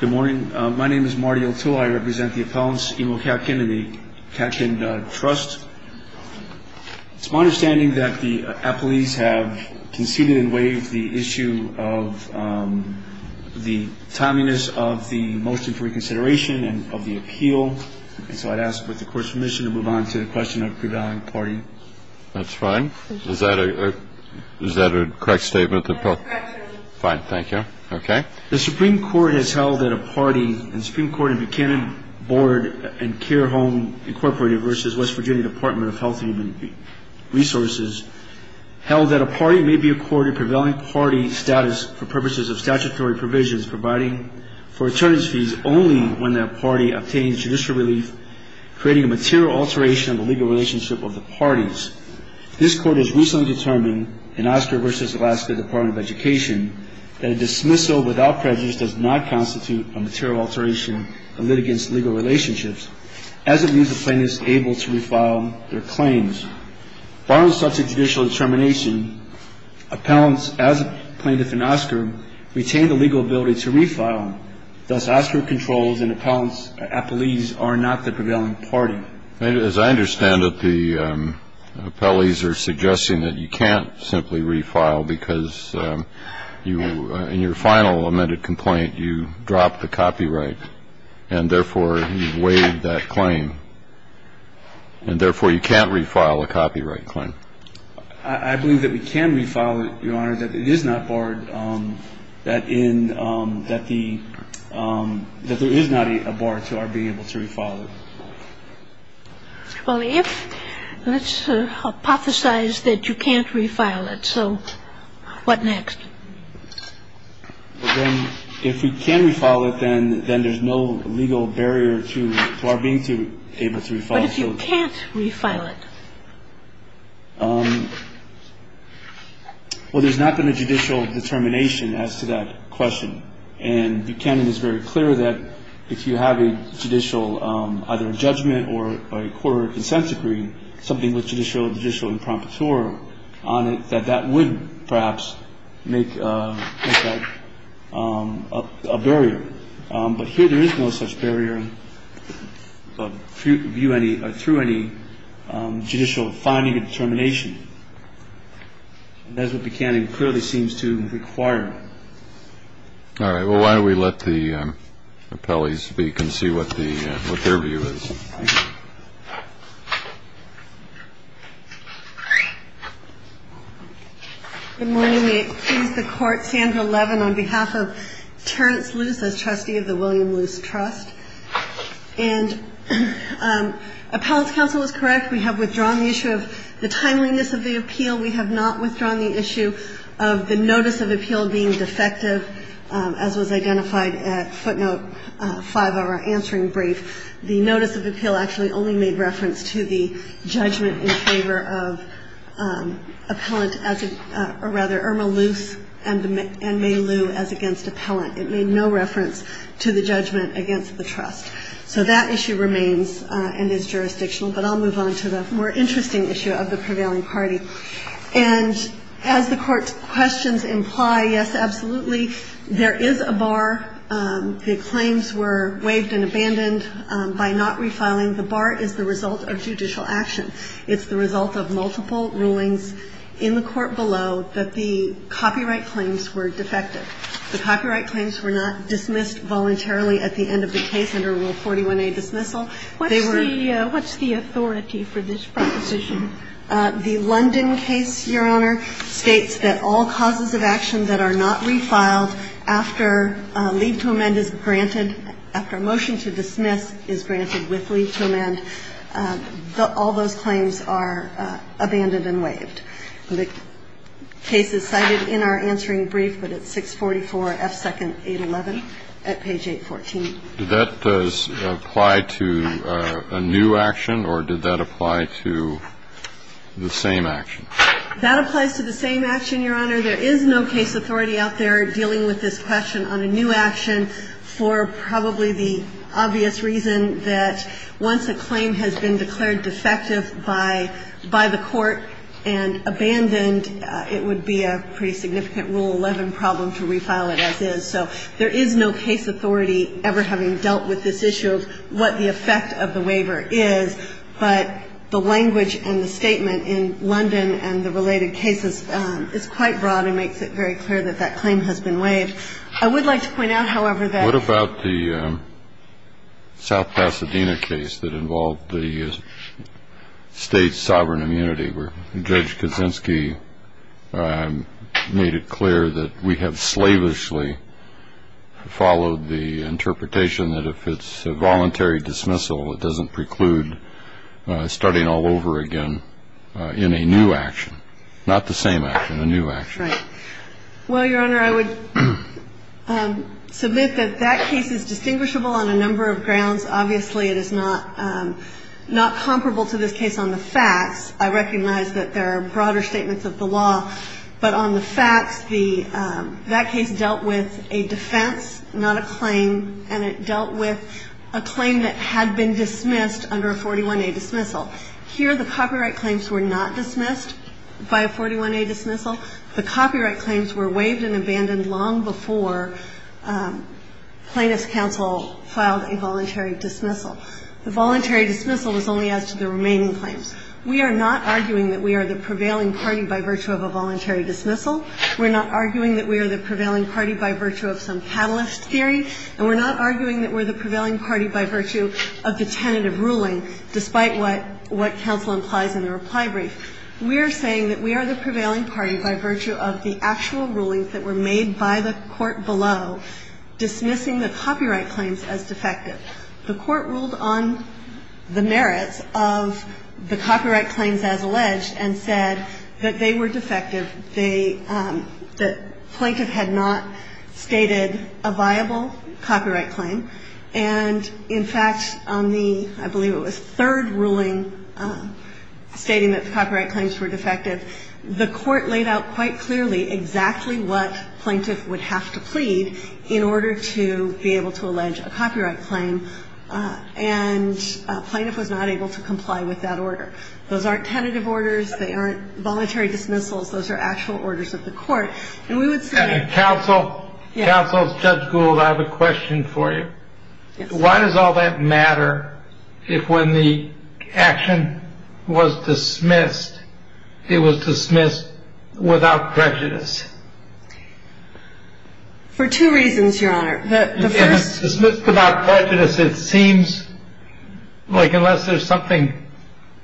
Good morning. My name is Marty O'Toole. I represent the appellants Imo Katkin and the Katkin Trust. It's my understanding that the appellees have conceded and waived the issue of the timeliness of the motion for reconsideration and of the appeal. And so I'd ask for the court's permission to move on to the question of the prevailing party. That's fine. Is that a correct statement? That's correct, Your Honor. Fine. Thank you. Okay. The Supreme Court has held that a party, and the Supreme Court and Buchanan Board and Care Home Incorporated v. West Virginia Department of Health and Human Resources, held that a party may be accorded prevailing party status for purposes of statutory provisions providing for attorneys' fees only when that party obtains judicial relief, creating a material alteration of the legal relationship of the parties. This Court has recently determined in Oscar v. Alaska Department of Education that a dismissal without prejudice does not constitute a material alteration of litigants' legal relationships, as it leaves the plaintiffs able to refile their claims. Barring such a judicial determination, appellants, as a plaintiff in Oscar, retain the legal ability to refile. Thus, Oscar controls and appellees are not the prevailing party. As I understand it, the appellees are suggesting that you can't simply refile because you in your final amended complaint, you dropped the copyright, and therefore, you've waived that claim. And therefore, you can't refile a copyright claim. I believe that we can refile it, Your Honor, that it is not barred, that in that there is not a bar to our being able to refile it. Well, if let's hypothesize that you can't refile it, so what next? Well, then, if we can refile it, then there's no legal barrier to our being able to refile it. But if you can't refile it? Well, there's not been a judicial determination as to that question. And Buchanan is very clear that if you have a judicial, either a judgment or a court or a consent decree, something with judicial impromptu on it, that that would perhaps make that a barrier. But here there is no such barrier through any judicial finding or determination. And that's what Buchanan clearly seems to require. All right. Well, why don't we let the appellees speak and see what their view is. Thank you. Good morning. May it please the Court, Sandra Levin on behalf of Terrence Luce as trustee of the William Luce Trust. And appellant's counsel is correct. We have withdrawn the issue of the timeliness of the appeal. We have not withdrawn the issue of the notice of appeal being defective, as was identified at footnote 5 of our answering brief. The notice of appeal actually only made reference to the judgment in favor of appellant, or rather, Irma Luce and May Lou as against appellant. It made no reference to the judgment against the trust. So that issue remains and is jurisdictional. But I'll move on to the more interesting issue of the prevailing party. And as the Court's questions imply, yes, absolutely, there is a bar. The claims were waived and abandoned by not refiling. The bar is the result of judicial action. It's the result of multiple rulings in the court below that the copyright claims were defective. The copyright claims were not dismissed voluntarily at the end of the case under Rule 41a dismissal. They were the ---- What's the authority for this proposition? The London case, Your Honor, states that all causes of action that are not refiled after leave to amend is granted, after a motion to dismiss is granted with leave to amend, all those claims are abandoned and waived. The case is cited in our answering brief, but it's 644 F. 2nd. 811 at page 814. Did that apply to a new action or did that apply to the same action? That applies to the same action, Your Honor. There is no case authority out there dealing with this question on a new action for probably the obvious reason that once a claim has been declared defective by the court and abandoned, it would be a pretty significant Rule 11 problem to refile it as is. So there is no case authority ever having dealt with this issue of what the effect of the waiver is, but the language and the statement in London and the related cases is quite broad and makes it very clear that that claim has been waived. I would like to point out, however, that ---- What about the South Pasadena case that involved the state's sovereign immunity where Judge Kaczynski made it clear that we have slavishly followed the interpretation that if it's a voluntary dismissal, it doesn't preclude starting all over again in a new action, not the same action, a new action. Right. Well, Your Honor, I would submit that that case is distinguishable on a number of grounds. Obviously, it is not comparable to this case on the facts. I recognize that there are broader statements of the law, but on the facts, that case dealt with a defense, not a claim, and it dealt with a claim that had been dismissed under a 41A dismissal. Here the copyright claims were not dismissed by a 41A dismissal. The copyright claims were waived and abandoned long before Plaintiffs' Counsel filed a voluntary dismissal. The voluntary dismissal was only as to the remaining claims. We are not arguing that we are the prevailing party by virtue of a voluntary dismissal. We're not arguing that we are the prevailing party by virtue of some catalyst theory, and we're not arguing that we're the prevailing party by virtue of the tentative ruling, despite what counsel implies in the reply brief. We are saying that we are the prevailing party by virtue of the actual rulings that were made by the court below dismissing the copyright claims as defective. The court ruled on the merits of the copyright claims as alleged and said that they were defective. They – the plaintiff had not stated a viable copyright claim. And, in fact, on the – I believe it was third ruling stating that the copyright claims were defective, the court laid out quite clearly exactly what plaintiff would have to plead in order to be able to allege a copyright claim, and plaintiff was not able to comply with that order. Those aren't tentative orders. They aren't voluntary dismissals. Those are actual orders of the court. And we would say – Counsel, Judge Gould, I have a question for you. Why does all that matter if when the action was dismissed, it was dismissed without prejudice? For two reasons, Your Honor. The first – If it's dismissed without prejudice, it seems like unless there's something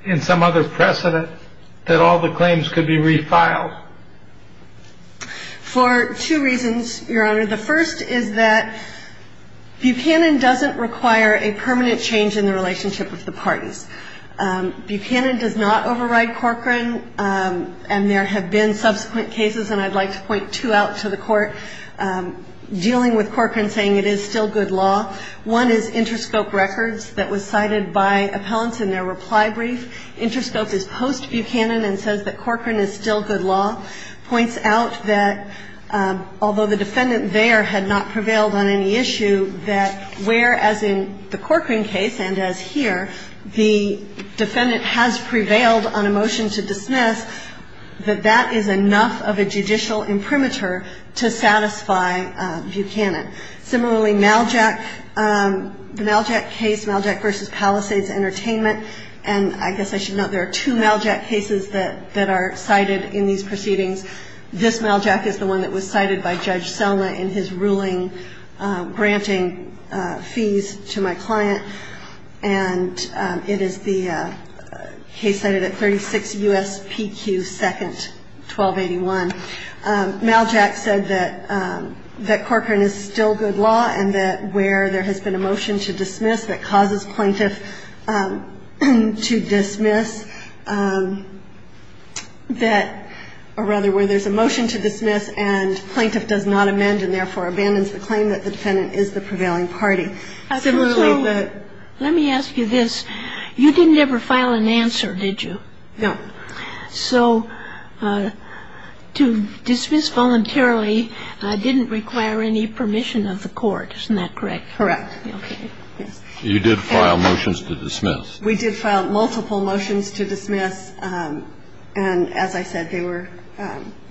in some other precedent that all the claims could be refiled. For two reasons, Your Honor. The first is that Buchanan doesn't require a permanent change in the relationship with the parties. Buchanan does not override Corcoran, and there have been subsequent cases, and I'd like to point two out to the court, dealing with Corcoran saying it is still good law. One is Interscope Records that was cited by appellants in their reply brief. Interscope is post-Buchanan and says that Corcoran is still good law, points out that although the defendant there had not prevailed on any issue, that whereas in the Corcoran case, and as here, the defendant has prevailed on a motion to dismiss, that that is enough of a judicial imprimatur to satisfy Buchanan. Similarly, the Maljack case, Maljack v. Palisades Entertainment, and I guess I should note there are two Maljack cases that are cited in these proceedings. This Maljack is the one that was cited by Judge Selma in his ruling granting fees to my client, and it is the case cited at 36 U.S.P.Q. 2nd, 1281. Maljack said that Corcoran is still good law and that where there has been a motion to dismiss that causes plaintiff to dismiss that or rather where there's a motion to dismiss and plaintiff does not amend and therefore abandons the claim that the defendant is the prevailing party. Similarly, the ---- So let me ask you this. You didn't ever file an answer, did you? No. So to dismiss voluntarily didn't require any permission of the court. Isn't that correct? Correct. Okay. You did file motions to dismiss. We did file multiple motions to dismiss, and as I said, they were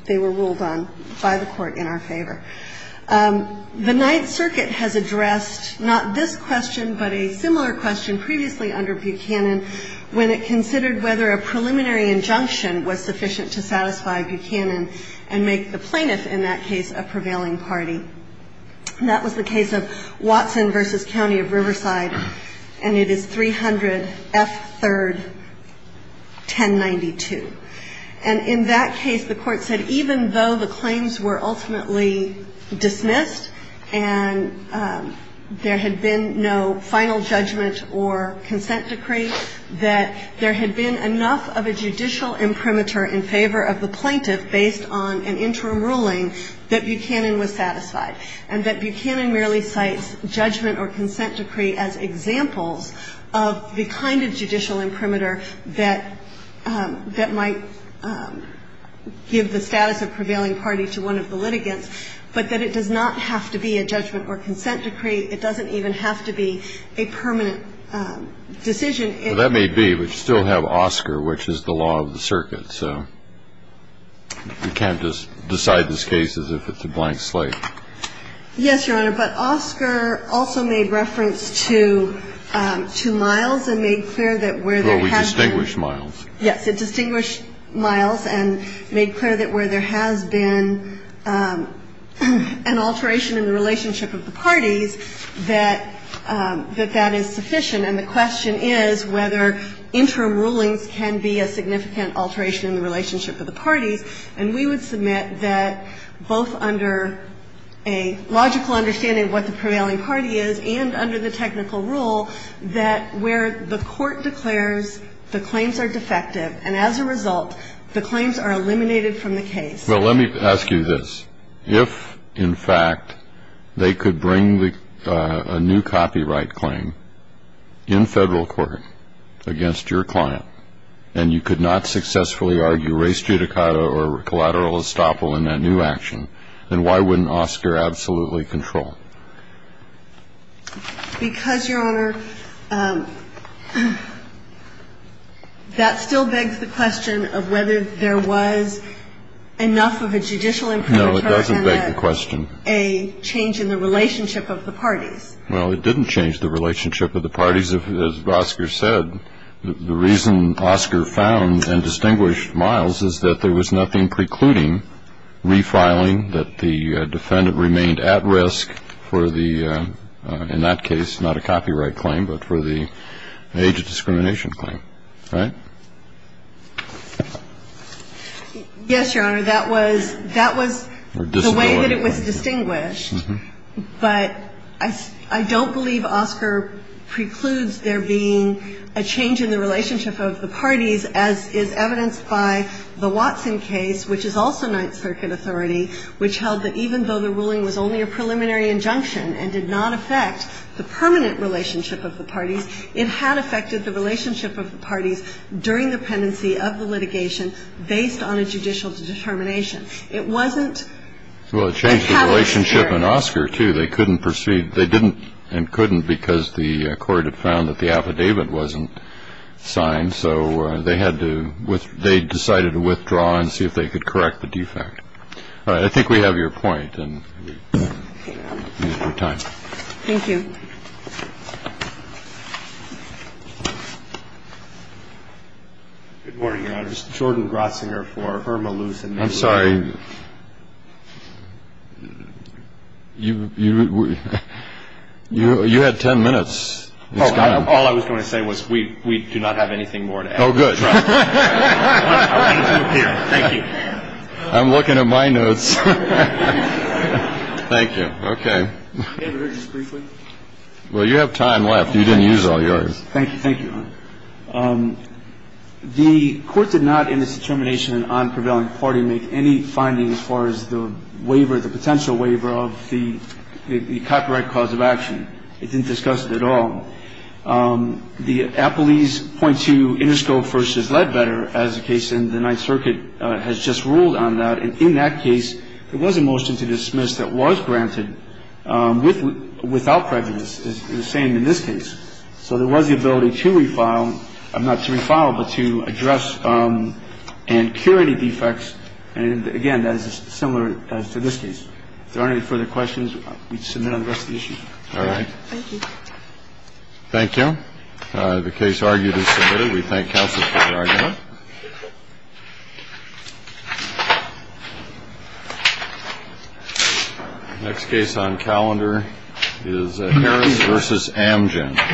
ruled on by the court in our favor. The Ninth Circuit has addressed not this question but a similar question previously under Buchanan when it considered whether a preliminary injunction was sufficient to satisfy Buchanan and make the plaintiff in that case a prevailing party. That was the case of Watson v. County of Riverside, and it is 300 F. 3rd, 1092. And in that case, the court said even though the claims were ultimately dismissed and there had been no final judgment or consent decree, that there had been enough of a judicial imprimatur in favor of the plaintiff based on an interim ruling that Buchanan was satisfied and that Buchanan merely cites judgment or consent decree as examples of the kind of judicial imprimatur that might give the status of prevailing party to one of the litigants, but that it does not have to be a judgment or consent decree. It doesn't even have to be a permanent decision. Well, that may be, but you still have Oscar, which is the law of the circuit, so you can't just decide this case as if it's a blank slate. Yes, Your Honor. But Oscar also made reference to Miles and made clear that where there has been. Well, we distinguished Miles. Yes. It distinguished Miles and made clear that where there has been an alteration in the relationship of the parties that that is sufficient. And the question is whether interim rulings can be a significant alteration in the relationship of the parties. And we would submit that both under a logical understanding of what the prevailing party is and under the technical rule that where the court declares the claims are defective and as a result the claims are eliminated from the case. Well, let me ask you this. If, in fact, they could bring a new copyright claim in Federal court against your client and you could not successfully argue race judicata or collateral estoppel in that new action, then why wouldn't Oscar absolutely control? Because, Your Honor, that still begs the question of whether there was enough of a judicial imperative and a change in the relationship of the parties. Well, it didn't change the relationship of the parties, as Oscar said. The reason Oscar found and distinguished Miles is that there was nothing precluding refiling that the defendant remained at risk for the, in that case, not a copyright claim, but for the age of discrimination claim. Right? Yes, Your Honor. That was the way that it was distinguished. But I don't believe Oscar precludes there being a change in the relationship of the parties as is evidenced by the Watson case, which is also Ninth Circuit authority, which held that even though the ruling was only a preliminary injunction and did not affect the permanent relationship of the parties, it had effected the relationship of the parties during the pendency of the litigation based on a judicial determination. It wasn't a catalyst here. Well, it changed the relationship in Oscar, too. They couldn't proceed. They didn't and couldn't because the court had found that the affidavit wasn't signed, so they had to, they decided to withdraw and see if they could correct the defect. All right. I think we have your point. Thank you. Good morning, Your Honor. This is Jordan Grossinger for Irma Luth. I'm sorry. You had 10 minutes. All I was going to say was we do not have anything more to add. Oh, good. I'm looking at my notes. Thank you. Okay. May I have a word just briefly? Well, you have time left. You didn't use all yours. Thank you. Thank you, Your Honor. The court did not in its determination on prevailing party make any findings as far as the waiver, the potential waiver of the copyright cause of action. It didn't discuss it at all. The Appellee's .2 Interscope v. Ledbetter as the case in the Ninth Circuit has just ruled on that. And in that case, there was a motion to dismiss that was granted without prejudice, the same in this case. So there was the ability to refile, not to refile, but to address and cure any defects. And, again, that is similar to this case. If there aren't any further questions, we submit on the rest of the issues. All right. Thank you. Thank you. The case argued and submitted. Thank you. We thank counsel for the argument. Next case on calendar is Heron v. Amgen.